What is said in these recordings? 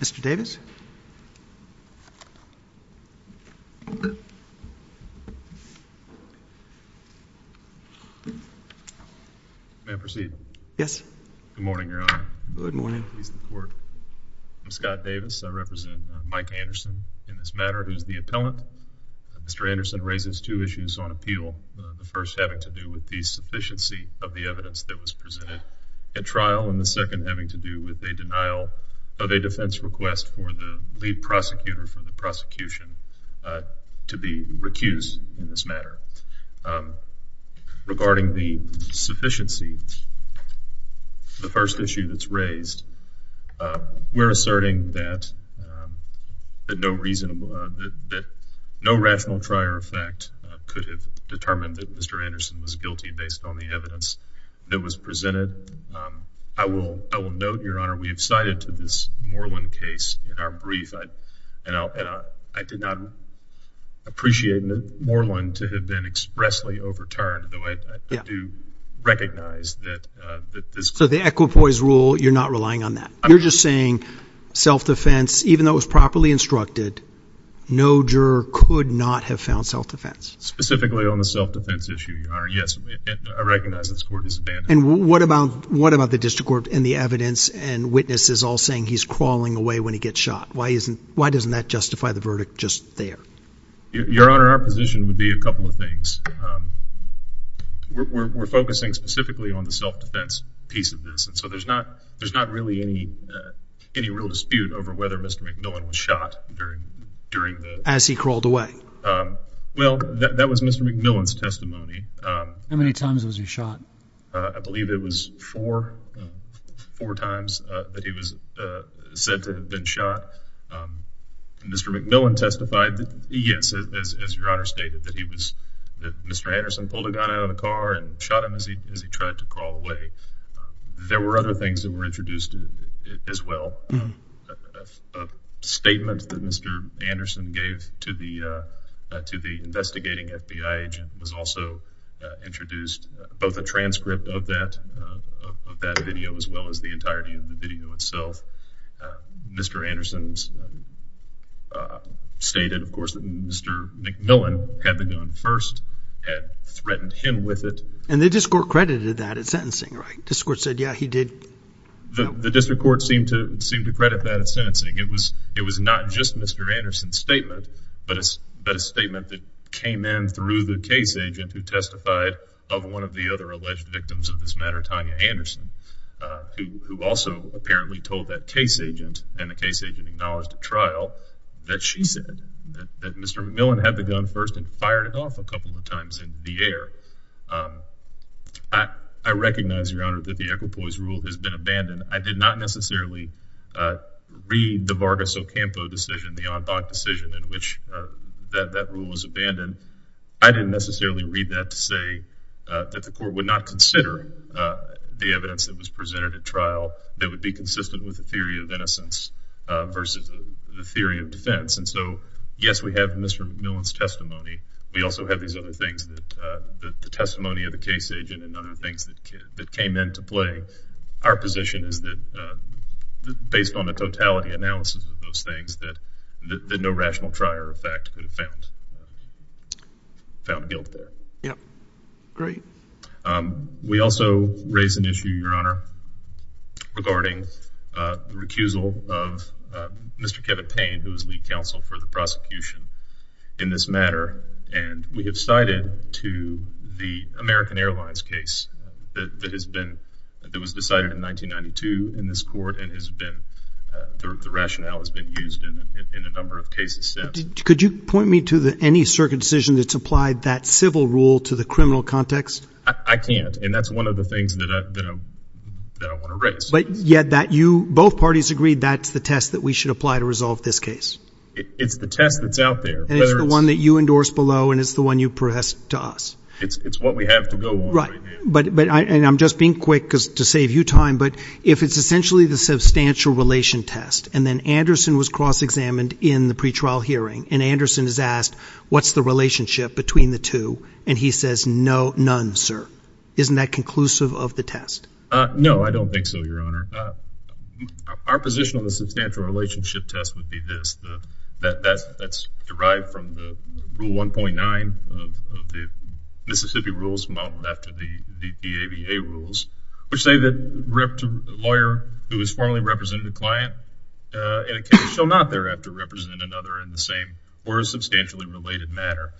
Mr. Davis. May I proceed? Yes. Good morning, Your Honor. Good morning. I'm Scott Davis. I represent Mike Anderson in this matter, who is the appellant. Mr. Anderson raises two issues on appeal. The first having to do with the sufficiency of the evidence that was presented at trial, and the second having to do with a denial of a defamation charge. And the defense request for the lead prosecutor for the prosecution to be recused in this matter. Regarding the sufficiency, the first issue that's raised, we're asserting that no rational trier effect could have determined that Mr. Anderson was guilty based on the evidence that was presented. I will note, Your Honor, we have cited to this Moreland case in our brief, and I did not appreciate Moreland to have been expressly overturned, though I do recognize that this... So the equipoise rule, you're not relying on that. You're just saying self-defense, even though it was properly instructed, no juror could not have found self-defense. Specifically on the self-defense issue, Your Honor, yes. I recognize this court is abandoned. And what about the district court and the evidence and witnesses all saying he's crawling away when he gets shot? Why doesn't that justify the verdict just there? Your Honor, our position would be a couple of things. We're focusing specifically on the self-defense piece of this, and so there's not really any real dispute over whether Mr. McMillan was shot during the... As he crawled away. Well, that was Mr. McMillan's testimony. How many times was he shot? I believe it was four. Four times that he was said to have been shot. Mr. McMillan testified that, yes, as Your Honor stated, that Mr. Anderson pulled a gun out of the car and shot him as he tried to crawl away. There were other things that were introduced as well. A statement that Mr. Anderson gave to the investigating FBI agent was also introduced, both a transcript of that video as well as the entirety of the video itself. Mr. Anderson stated, of course, that Mr. McMillan had the gun first, had threatened him with it. And the district court credited that as sentencing, right? The district court said, yeah, he did. The district court seemed to credit that as sentencing. It was not just Mr. Anderson's statement, but a statement that came in through the case agent who testified of one of the other alleged victims of this matter, Tanya Anderson, who also apparently told that case agent and the case agent acknowledged at trial that she said that Mr. McMillan had the gun first and fired it off a couple of times in the air. I recognize, Your Honor, that the equipoise rule has been abandoned. I did not necessarily read the Vargas Ocampo decision, the en banc decision in which that rule was abandoned. I didn't necessarily read that to say that the court would not consider the evidence that was presented at trial that would be consistent with the theory of innocence versus the theory of defense. And so, yes, we have Mr. McMillan's testimony. We also have these other things, the testimony of the case agent and other things that came into play. Our position is that based on the totality analysis of those things, that no rational trier of fact could have found guilt there. Great. We also raise an issue, Your Honor, regarding the recusal of Mr. Kevin Payne, who is lead counsel for the prosecution in this matter. And we have cited to the American Airlines case that has been that was decided in 1992 in this court and has been the rationale has been used in a number of cases. Could you point me to any circumcision that's applied that civil rule to the criminal context? I can't. And that's one of the things that I want to raise. But yet that you both parties agreed that's the test that we should apply to resolve this case. It's the test that's out there. And it's the one that you endorse below and it's the one you press to us. It's what we have to go on right now. But I'm just being quick to save you time. But if it's essentially the substantial relation test and then Anderson was cross examined in the pretrial hearing and Anderson is asked, what's the relationship between the two? And he says, no, none, sir. Isn't that conclusive of the test? No, I don't think so. Your Honor. Our position on the substantial relationship test would be this. That's derived from the rule 1.9 of the Mississippi rules modeled after the ABA rules, which say that a lawyer who is formally represented a client in a case shall not thereafter represent another in the same or substantially related matter.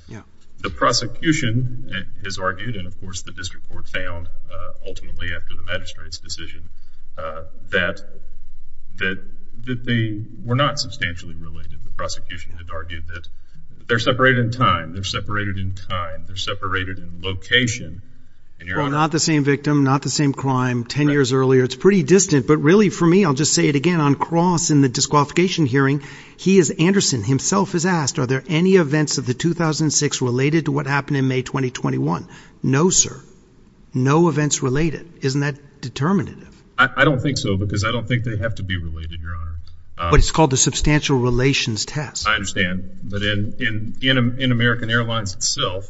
The prosecution has argued, and of course the district court found ultimately after the magistrate's decision, that they were not substantially related. The prosecution had argued that they're separated in time, they're separated in time, they're separated in location. Well, not the same victim, not the same crime 10 years earlier. It's pretty distant, but really for me, I'll just say it again. On cross in the disqualification hearing, he is. Anderson himself is asked, are there any events of the 2006 related to what happened in May 2021? No, sir. No events related. Isn't that determinative? I don't think so, because I don't think they have to be related. Your Honor. But it's called the substantial relations test. I understand. But in American Airlines itself,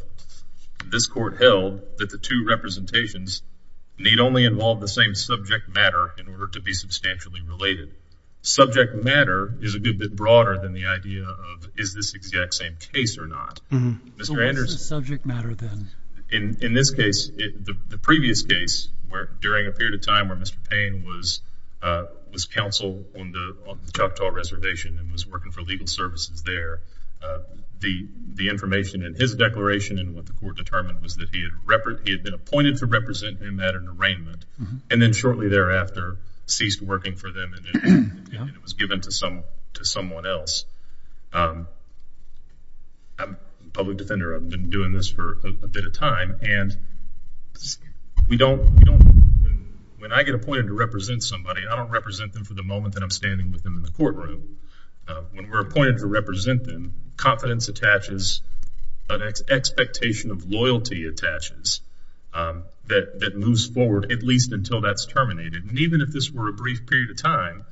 this court held that the two representations need only involve the same subject matter in order to be substantially related. Subject matter is a good bit broader than the idea of is this exact same case or not. So what's the subject matter then? In this case, the previous case, during a period of time where Mr. Payne was counsel on the Choctaw Reservation and was working for legal services there, the information in his declaration and what the court determined was that he had been appointed to represent him at an arraignment, and then shortly thereafter ceased working for them and it was given to someone else. I'm a public defender. I've been doing this for a bit of time. And when I get appointed to represent somebody, I don't represent them for the moment that I'm standing with them in the courtroom. When we're appointed to represent them, confidence attaches, an expectation of loyalty attaches that moves forward at least until that's terminated. And even if this were a brief period of time,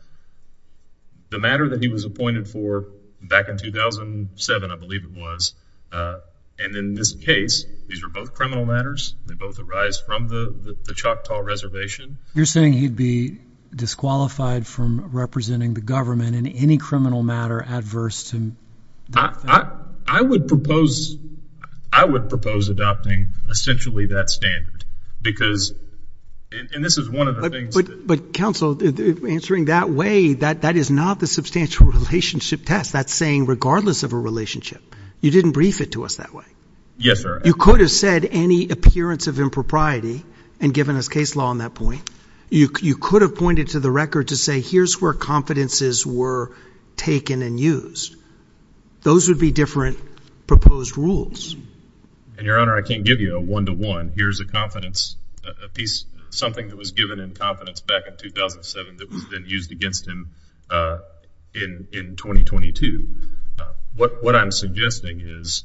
the matter that he was appointed for back in 2007, I believe it was, and in this case, these were both criminal matters. They both arise from the Choctaw Reservation. You're saying he'd be disqualified from representing the government in any criminal matter adverse to that thing? I would propose adopting essentially that standard because, and this is one of the things. But counsel, answering that way, that is not the substantial relationship test. That's saying regardless of a relationship, you didn't brief it to us that way. Yes, sir. You could have said any appearance of impropriety and given us case law on that point. You could have pointed to the record to say here's where confidences were taken and used. Those would be different proposed rules. And, Your Honor, I can't give you a one-to-one. Here's a piece, something that was given in confidence back in 2007 that was then used against him in 2022. What I'm suggesting is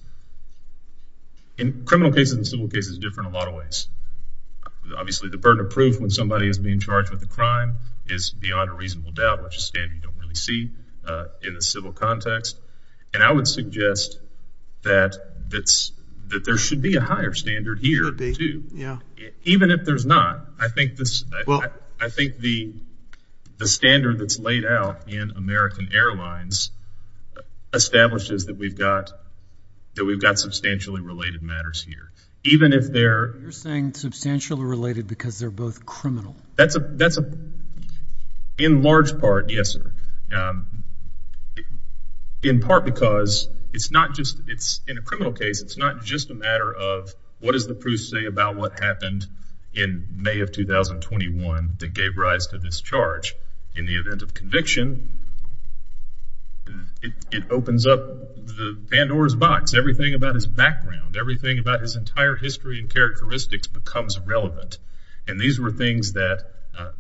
in criminal cases and civil cases, it's different in a lot of ways. Obviously, the burden of proof when somebody is being charged with a crime is beyond a reasonable doubt, which is a standard you don't really see in the civil context. And I would suggest that there should be a higher standard here too. Even if there's not, I think the standard that's laid out in American Airlines establishes that we've got substantially related matters here. You're saying substantially related because they're both criminal. In large part, yes, sir. In part because in a criminal case, it's not just a matter of what does the proof say about what happened in May of 2021 that gave rise to this charge. In the event of conviction, it opens up the Pandora's box. Everything about his background, everything about his entire history and characteristics becomes relevant. And these were things that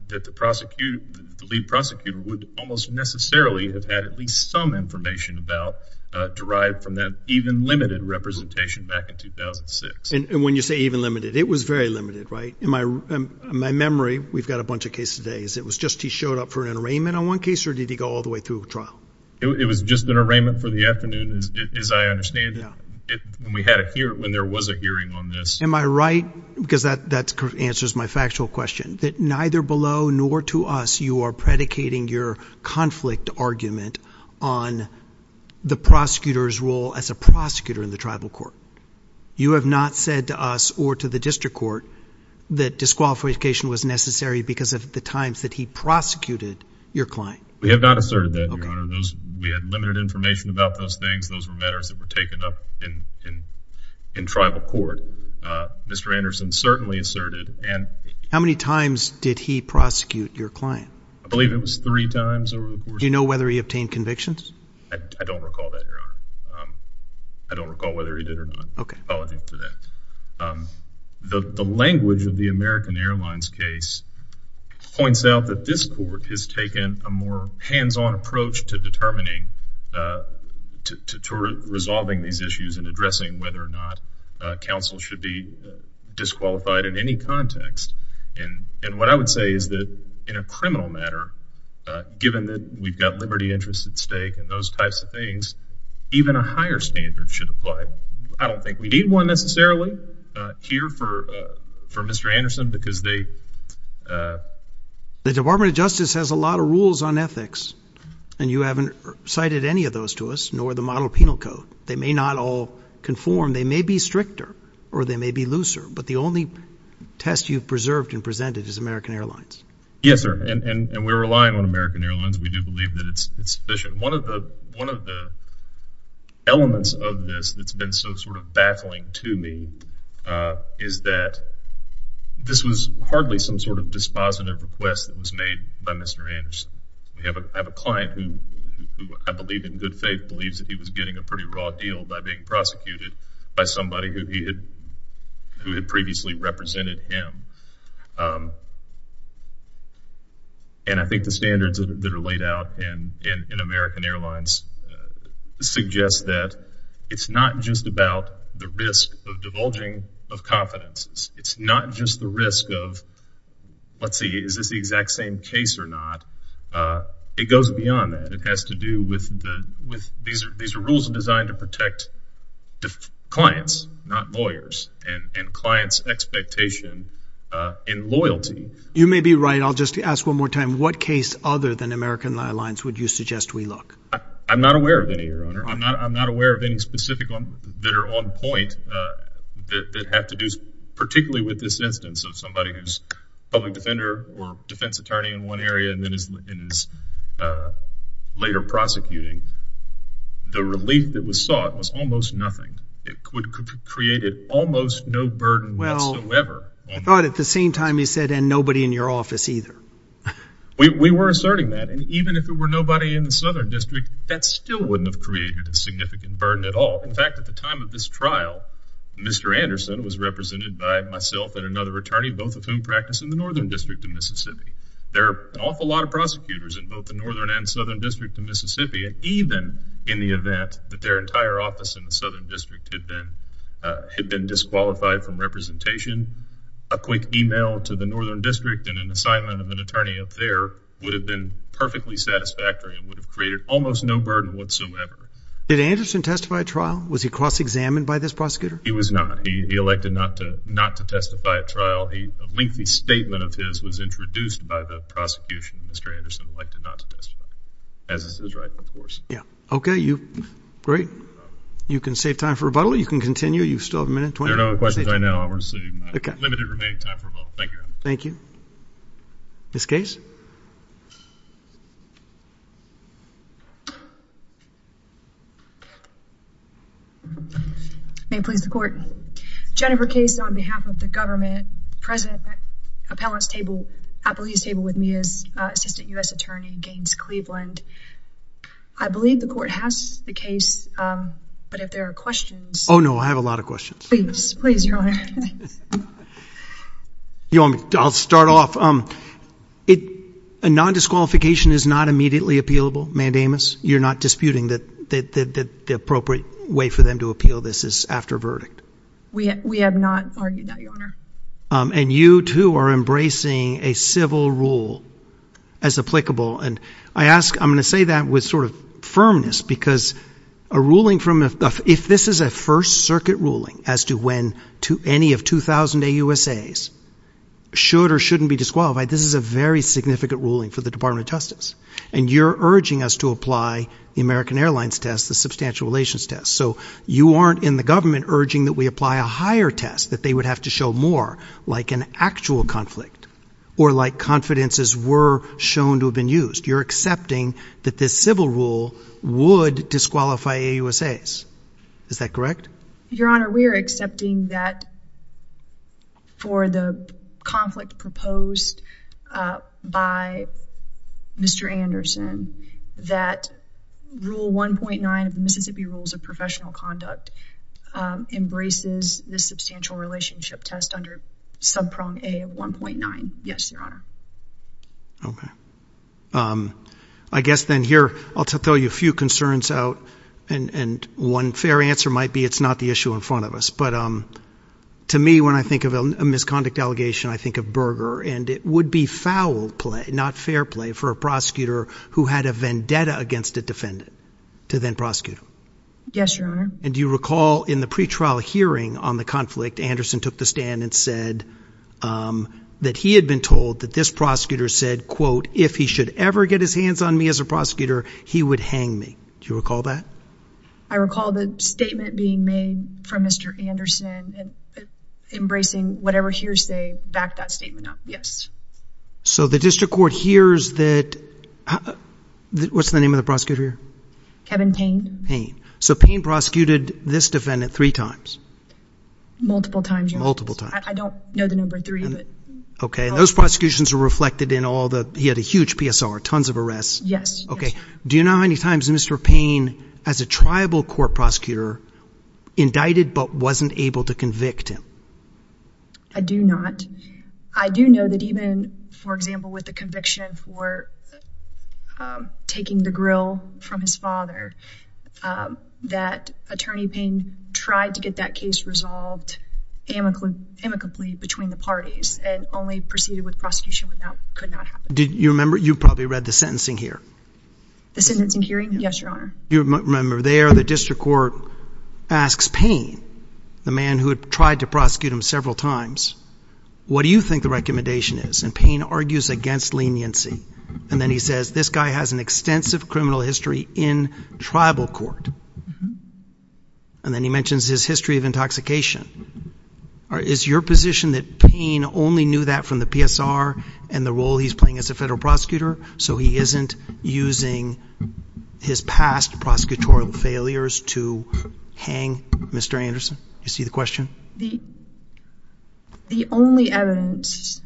the lead prosecutor would almost necessarily have had at least some information about derived from that even limited representation back in 2006. And when you say even limited, it was very limited, right? In my memory, we've got a bunch of cases. It was just he showed up for an arraignment on one case or did he go all the way through trial? It was just an arraignment for the afternoon, as I understand it. When there was a hearing on this. Am I right? Because that answers my factual question. That neither below nor to us, you are predicating your conflict argument on the prosecutor's role as a prosecutor in the tribal court. You have not said to us or to the district court that disqualification was necessary because of the times that he prosecuted your client. We have not asserted that, Your Honor. We had limited information about those things. Those were matters that were taken up in tribal court. Mr. Anderson certainly asserted. How many times did he prosecute your client? I believe it was three times. Do you know whether he obtained convictions? I don't recall that, Your Honor. I don't recall whether he did or not. Apologies for that. The language of the American Airlines case points out that this court has taken a more hands-on approach to determining, to resolving these issues and addressing whether or not counsel should be disqualified in any context. And what I would say is that in a criminal matter, given that we've got liberty interests at stake and those types of things, even a higher standard should apply. I don't think we need one necessarily here for Mr. Anderson because they— The Department of Justice has a lot of rules on ethics, and you haven't cited any of those to us, nor the model penal code. They may not all conform. They may be stricter or they may be looser, but the only test you've preserved and presented is American Airlines. Yes, sir, and we're relying on American Airlines. We do believe that it's sufficient. One of the elements of this that's been so sort of baffling to me is that this was hardly some sort of dispositive request that was made by Mr. Anderson. I have a client who I believe in good faith believes that he was getting a pretty raw deal by being prosecuted by somebody who had previously represented him. And I think the standards that are laid out in American Airlines suggest that it's not just about the risk of divulging of confidences. It's not just the risk of, let's see, is this the exact same case or not? It goes beyond that. These are rules designed to protect clients, not lawyers, and clients' expectation and loyalty. You may be right. I'll just ask one more time. What case other than American Airlines would you suggest we look? I'm not aware of any, Your Honor. I'm not aware of any specific that are on point that have to do particularly with this instance of somebody who's a public defender or defense attorney in one area and then is later prosecuting. The relief that was sought was almost nothing. It created almost no burden whatsoever. Well, I thought at the same time you said, and nobody in your office either. We were asserting that. And even if there were nobody in the Southern District, that still wouldn't have created a significant burden at all. In fact, at the time of this trial, Mr. Anderson was represented by myself and another attorney, both of whom practice in the Northern District of Mississippi. There are an awful lot of prosecutors in both the Northern and Southern District of Mississippi. Even in the event that their entire office in the Southern District had been disqualified from representation, a quick e-mail to the Northern District and an assignment of an attorney up there would have been perfectly satisfactory and would have created almost no burden whatsoever. Did Anderson testify at trial? Was he cross-examined by this prosecutor? He was not. He elected not to testify at trial. A lengthy statement of his was introduced by the prosecution. Mr. Anderson elected not to testify, as is his right, of course. Yeah. Okay. You can save time for rebuttal. You can continue. You still have a minute. There are no questions right now. We're seeing limited remaining time for rebuttal. Thank you. Thank you. Ms. Case? May it please the Court. Jennifer Case on behalf of the government. The President's appellate table with me is Assistant U.S. Attorney Gaines Cleveland. I believe the Court has the case, but if there are questions... Oh, no. I have a lot of questions. Please. Please, Your Honor. I'll start off. A non-disqualification is not immediately appealable, mandamus. You're not disputing that the appropriate way for them to appeal this is after a verdict? We have not argued that, Your Honor. And you, too, are embracing a civil rule as applicable. And I'm going to say that with sort of firmness because a ruling from a... If this is a First Circuit ruling as to when any of 2,000 AUSAs should or shouldn't be disqualified, and you're urging us to apply the American Airlines test, the substantial relations test. So you aren't, in the government, urging that we apply a higher test, that they would have to show more, like an actual conflict or like confidences were shown to have been used. You're accepting that this civil rule would disqualify AUSAs. Is that correct? Your Honor, we are accepting that for the conflict proposed by Mr. Anderson, that Rule 1.9 of the Mississippi Rules of Professional Conduct embraces this substantial relationship test under subprong A of 1.9. Yes, Your Honor. Okay. I guess then here, I'll throw you a few concerns out. And one fair answer might be it's not the issue in front of us. But to me, when I think of a misconduct allegation, I think of Berger. And it would be foul play, not fair play, for a prosecutor who had a vendetta against a defendant to then prosecute him. Yes, Your Honor. And do you recall in the pretrial hearing on the conflict, Anderson took the stand and said that he had been told that this prosecutor said, quote, if he should ever get his hands on me as a prosecutor, he would hang me. Do you recall that? I recall the statement being made from Mr. Anderson and embracing whatever hearsay backed that statement up. Yes. So the district court hears that – what's the name of the prosecutor here? Kevin Payne. Payne. So Payne prosecuted this defendant three times? Multiple times, Your Honor. Multiple times. I don't know the number three. Okay. And those prosecutions were reflected in all the – he had a huge PSR, tons of arrests. Yes. Okay. Do you know how many times Mr. Payne, as a tribal court prosecutor, indicted but wasn't able to convict him? I do not. I do know that even, for example, with the conviction for taking the grill from his father, that Attorney Payne tried to get that case resolved amicably between the parties and only proceeded with prosecution when that could not happen. Do you remember? You probably read the sentencing here. The sentencing hearing? Yes, Your Honor. You remember there the district court asks Payne, the man who had tried to prosecute him several times, what do you think the recommendation is? And Payne argues against leniency. And then he says, this guy has an extensive criminal history in tribal court. And then he mentions his history of intoxication. Is your position that Payne only knew that from the PSR and the role he's playing as a federal prosecutor so he isn't using his past prosecutorial failures to hang Mr. Anderson? Do you see the question? The only evidence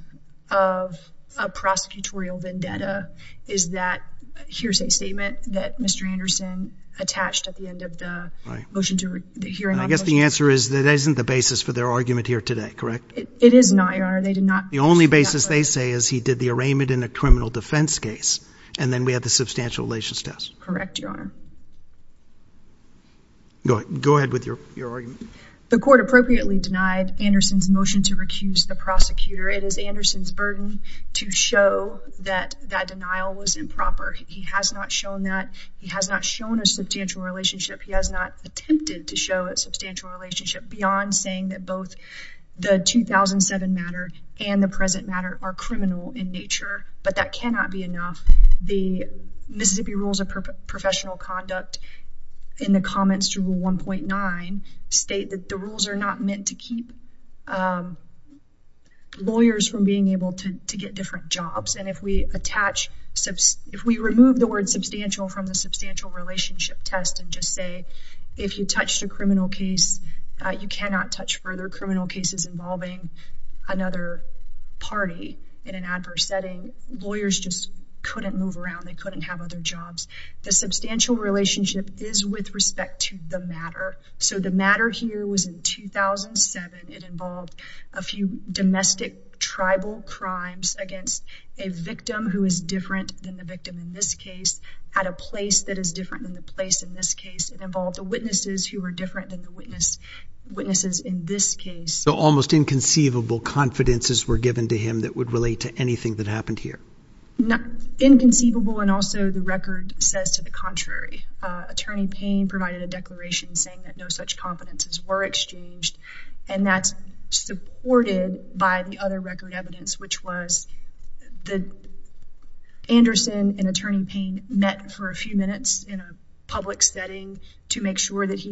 of a prosecutorial vendetta is that here's a statement that Mr. Anderson attached at the end of the hearing. I guess the answer is that isn't the basis for their argument here today, correct? It is not, Your Honor. The only basis they say is he did the arraignment in a criminal defense case and then we had the substantial relations test. Correct, Your Honor. Go ahead with your argument. The court appropriately denied Anderson's motion to recuse the prosecutor. It is Anderson's burden to show that that denial was improper. He has not shown that. He has not shown a substantial relationship. He has not attempted to show a substantial relationship beyond saying that both the 2007 matter and the present matter are criminal in nature, but that cannot be enough. The Mississippi Rules of Professional Conduct in the comments to Rule 1.9 state that the rules are not meant to keep lawyers from being able to get different jobs, and if we remove the word substantial from the substantial relationship test and just say if you touched a criminal case you cannot touch further criminal cases involving another party in an adverse setting, lawyers just couldn't move around. They couldn't have other jobs. The substantial relationship is with respect to the matter. So the matter here was in 2007. It involved a few domestic tribal crimes against a victim who is different than the victim in this case at a place that is different than the place in this case. It involved the witnesses who were different than the witnesses in this case. So almost inconceivable confidences were given to him that would relate to anything that happened here. Inconceivable and also the record says to the contrary. Attorney Payne provided a declaration saying that no such confidences were exchanged, and that's supported by the other record evidence, which was that Anderson and Attorney Payne met for a few minutes in a public setting to make sure that he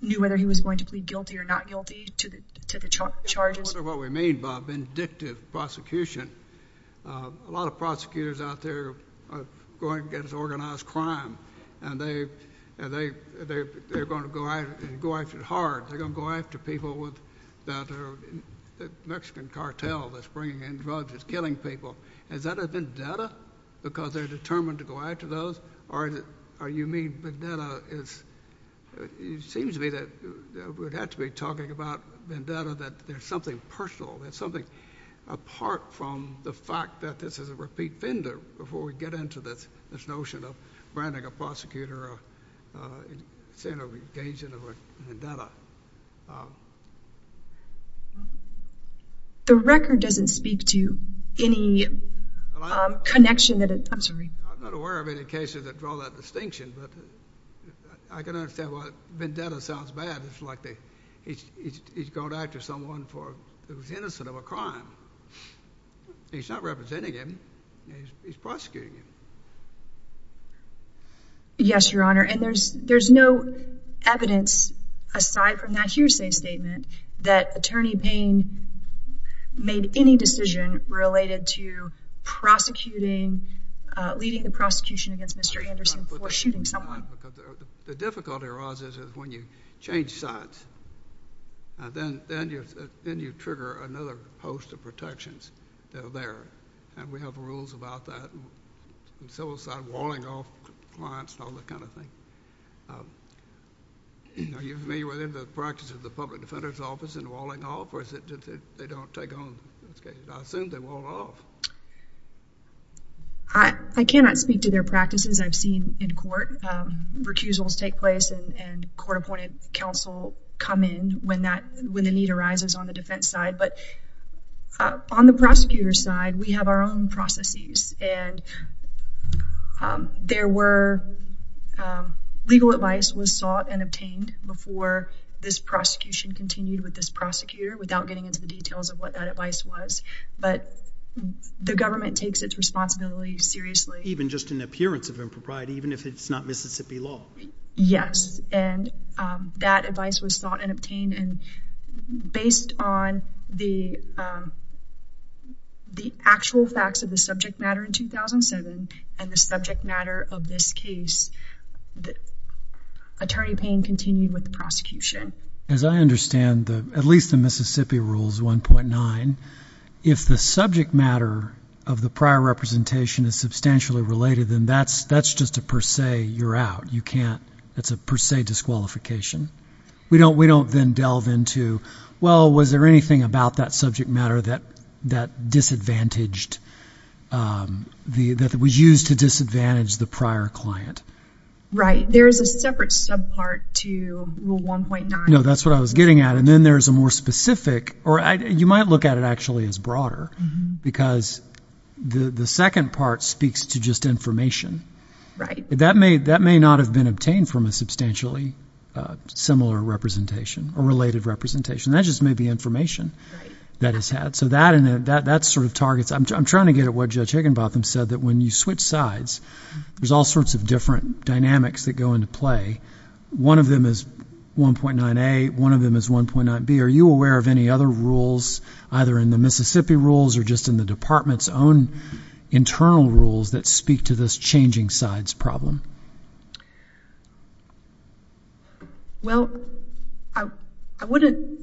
knew whether he was going to plead guilty or not guilty to the charges. I wonder what we mean by vindictive prosecution. A lot of prosecutors out there are going against organized crime, and they're going to go after it hard. They're going to go after people with the Mexican cartel that's bringing in drugs that's killing people. Is that a vendetta because they're determined to go after those, or you mean vendetta is, it seems to me that we'd have to be talking about vendetta, that there's something personal, there's something apart from the fact that this is a repeat offender before we get into this notion of branding a prosecutor or engaging in a vendetta. The record doesn't speak to any connection that it, I'm sorry. I'm not aware of any cases that draw that distinction, but I can understand why vendetta sounds bad. It's like he's going to act as someone who's innocent of a crime. He's not representing him. He's prosecuting him. Yes, Your Honor, and there's no evidence aside from that hearsay statement that Attorney Payne made any decision related to prosecuting, leading the prosecution against Mr. Anderson for shooting someone. The difficulty arises is when you change sides. Then you trigger another host of protections that are there, and we have rules about that and civil side walling off clients and all that kind of thing. Are you familiar with the practice of the public defender's office and walling off, or is it that they don't take on those cases? I assume they wall off. I cannot speak to their practices. I've seen in court recusals take place and court-appointed counsel come in when the need arises on the defense side. But on the prosecutor's side, we have our own processes, and there were legal advice was sought and obtained before this prosecution continued with this prosecutor without getting into the details of what that advice was. But the government takes its responsibility seriously. Even just an appearance of impropriety, even if it's not Mississippi law? Based on the actual facts of the subject matter in 2007 and the subject matter of this case, Attorney Payne continued with the prosecution. As I understand, at least in Mississippi Rules 1.9, if the subject matter of the prior representation is substantially related, then that's just a per se, you're out. It's a per se disqualification. We don't then delve into, well, was there anything about that subject matter that was used to disadvantage the prior client? Right. There's a separate subpart to Rule 1.9. No, that's what I was getting at. And then there's a more specific, or you might look at it actually as broader, because the second part speaks to just information. That may not have been obtained from a substantially similar representation or related representation. That just may be information that is had. So that sort of targets – I'm trying to get at what Judge Higginbotham said, that when you switch sides, there's all sorts of different dynamics that go into play. One of them is 1.9a. One of them is 1.9b. Are you aware of any other rules, either in the Mississippi Rules or just in the department's own internal rules that speak to this changing sides problem? Well, I wouldn't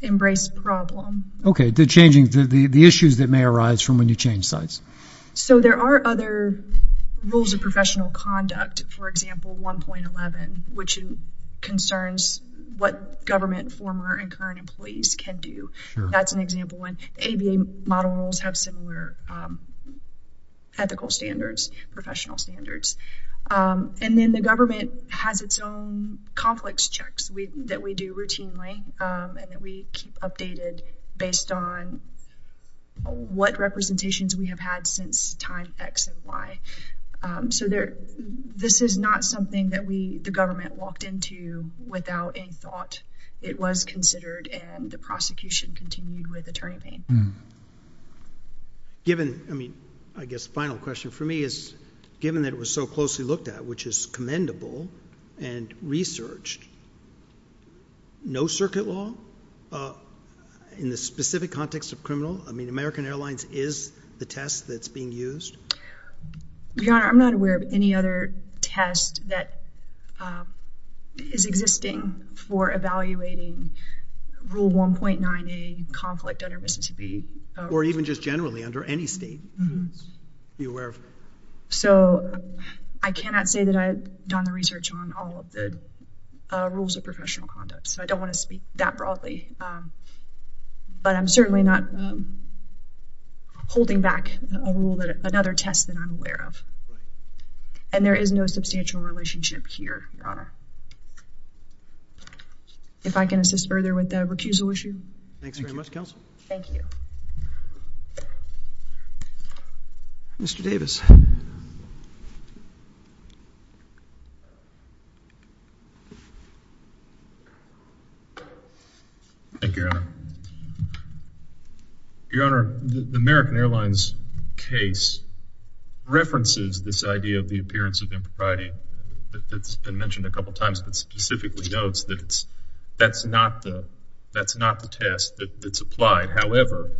embrace problem. Okay. The issues that may arise from when you change sides. So there are other rules of professional conduct. For example, 1.11, which concerns what government former and current employees can do. That's an example one. The ABA model rules have similar ethical standards, professional standards. And then the government has its own conflicts checks that we do routinely and that we keep updated based on what representations we have had since time X and Y. So this is not something that the government walked into without any thought. It was considered and the prosecution continued with attorney pain. Given – I mean, I guess the final question for me is, given that it was so closely looked at, which is commendable and researched, no circuit law in the specific context of criminal? I mean, American Airlines is the test that's being used? Your Honor, I'm not aware of any other test that is existing for evaluating Rule 1.9A, conflict under Mississippi. Or even just generally under any state. So I cannot say that I've done the research on all of the rules of professional conduct, but I'm certainly not holding back another test that I'm aware of. And there is no substantial relationship here, Your Honor. If I can assist further with the recusal issue. Thanks very much, Counsel. Thank you. Mr. Davis. Thank you, Your Honor. Your Honor, the American Airlines case references this idea of the appearance of impropriety. It's been mentioned a couple times, but specifically notes that that's not the test that's applied. However,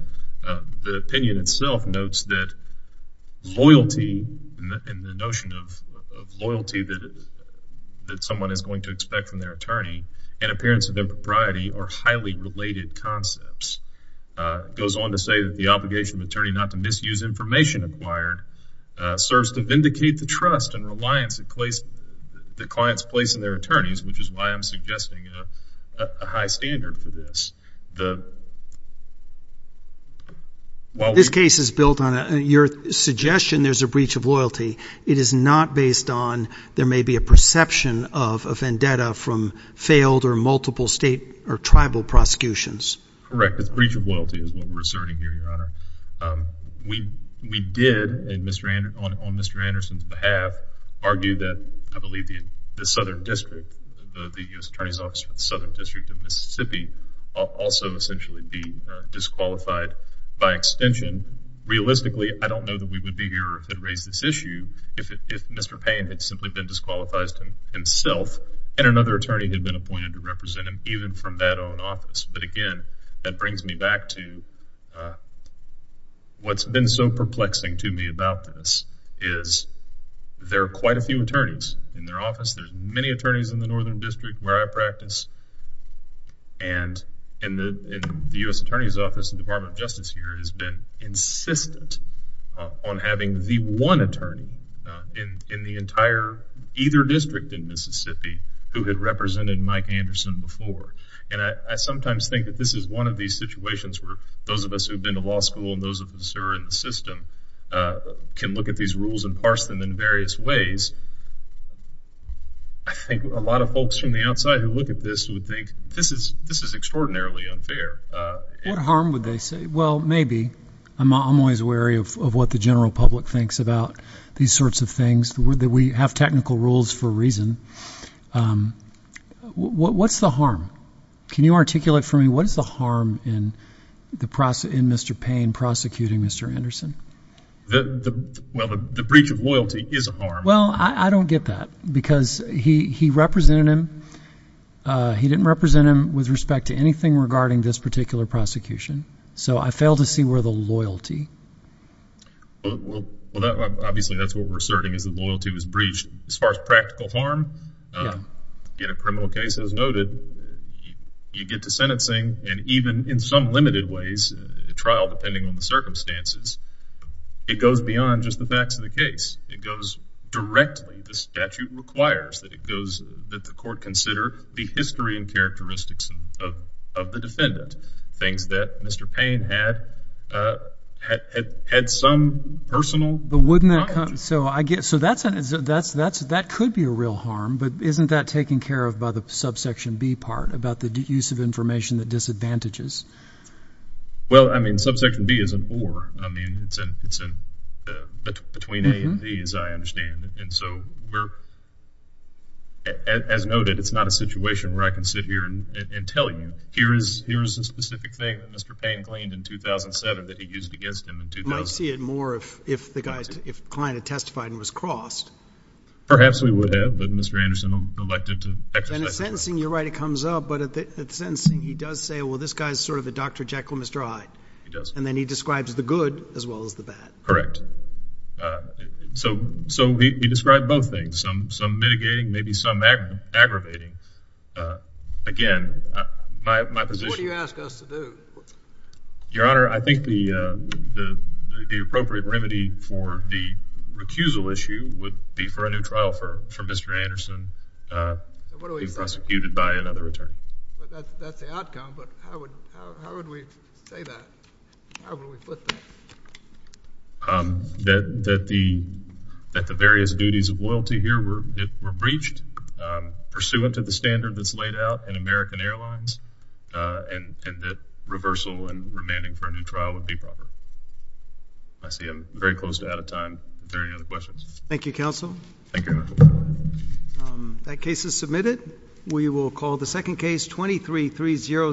the opinion itself notes that loyalty, and the notion of loyalty that someone is going to expect from their attorney, and appearance of impropriety are highly related concepts. It goes on to say that the obligation of an attorney not to misuse information acquired serves to vindicate the trust and reliance that clients place on their attorneys, which is why I'm suggesting a high standard for this. This case is built on your suggestion there's a breach of loyalty. It is not based on there may be a perception of a vendetta from failed or multiple state or tribal prosecutions. Correct. It's a breach of loyalty is what we're asserting here, Your Honor. We did, on Mr. Anderson's behalf, argue that I believe the Southern District, the U.S. Attorney's Office for the Southern District of Mississippi, also essentially be disqualified by extension. Realistically, I don't know that we would be here if it raised this issue, if Mr. Payne had simply been disqualified himself, and another attorney had been appointed to represent him even from that own office. Again, that brings me back to what's been so perplexing to me about this, is there are quite a few attorneys in their office. In the U.S. Attorney's Office, the Department of Justice here has been insistent on having the one attorney in the entire either district in Mississippi who had represented Mike Anderson before. I sometimes think that this is one of these situations where those of us who have been to law school and those of us who are in the system can look at these rules and parse them in various ways. I think a lot of folks from the outside who look at this would think this is extraordinarily unfair. What harm would they say? Well, maybe. I'm always wary of what the general public thinks about these sorts of things. We have technical rules for a reason. What's the harm? Can you articulate for me what is the harm in Mr. Payne prosecuting Mr. Anderson? Well, the breach of loyalty is a harm. Well, I don't get that because he represented him. He didn't represent him with respect to anything regarding this particular prosecution. So I fail to see where the loyalty. Well, obviously that's what we're asserting is that loyalty was breached. As far as practical harm, in a criminal case as noted, you get to sentencing and even in some limited ways, a trial depending on the circumstances, it goes beyond just the facts of the case. It goes directly. The statute requires that the court consider the history and characteristics of the defendant, things that Mr. Payne had some personal knowledge. But wouldn't that – so that could be a real harm, but isn't that taken care of by the subsection B part about the use of information that disadvantages? Well, I mean subsection B is an or. I mean it's between A and B as I understand it. And so we're – as noted, it's not a situation where I can sit here and tell you, here is a specific thing that Mr. Payne claimed in 2007 that he used against him. You might see it more if the client had testified and was crossed. Perhaps we would have, but Mr. Anderson elected to – And in sentencing, you're right, it comes up. But at sentencing, he does say, well, this guy is sort of a Dr. Jekyll and Mr. Hyde. He does. And then he describes the good as well as the bad. Correct. So he described both things, some mitigating, maybe some aggravating. Again, my position – What do you ask us to do? Your Honor, I think the appropriate remedy for the recusal issue would be for a new trial for Mr. Anderson to be prosecuted by another attorney. But that's the outcome. But how would we say that? How would we put that? That the various duties of loyalty here were breached pursuant to the standard that's laid out in American Airlines and that reversal and remanding for a new trial would be proper. I see I'm very close to out of time. Are there any other questions? Thank you, Your Honor. That case is submitted. We will call the second case, 23-3006.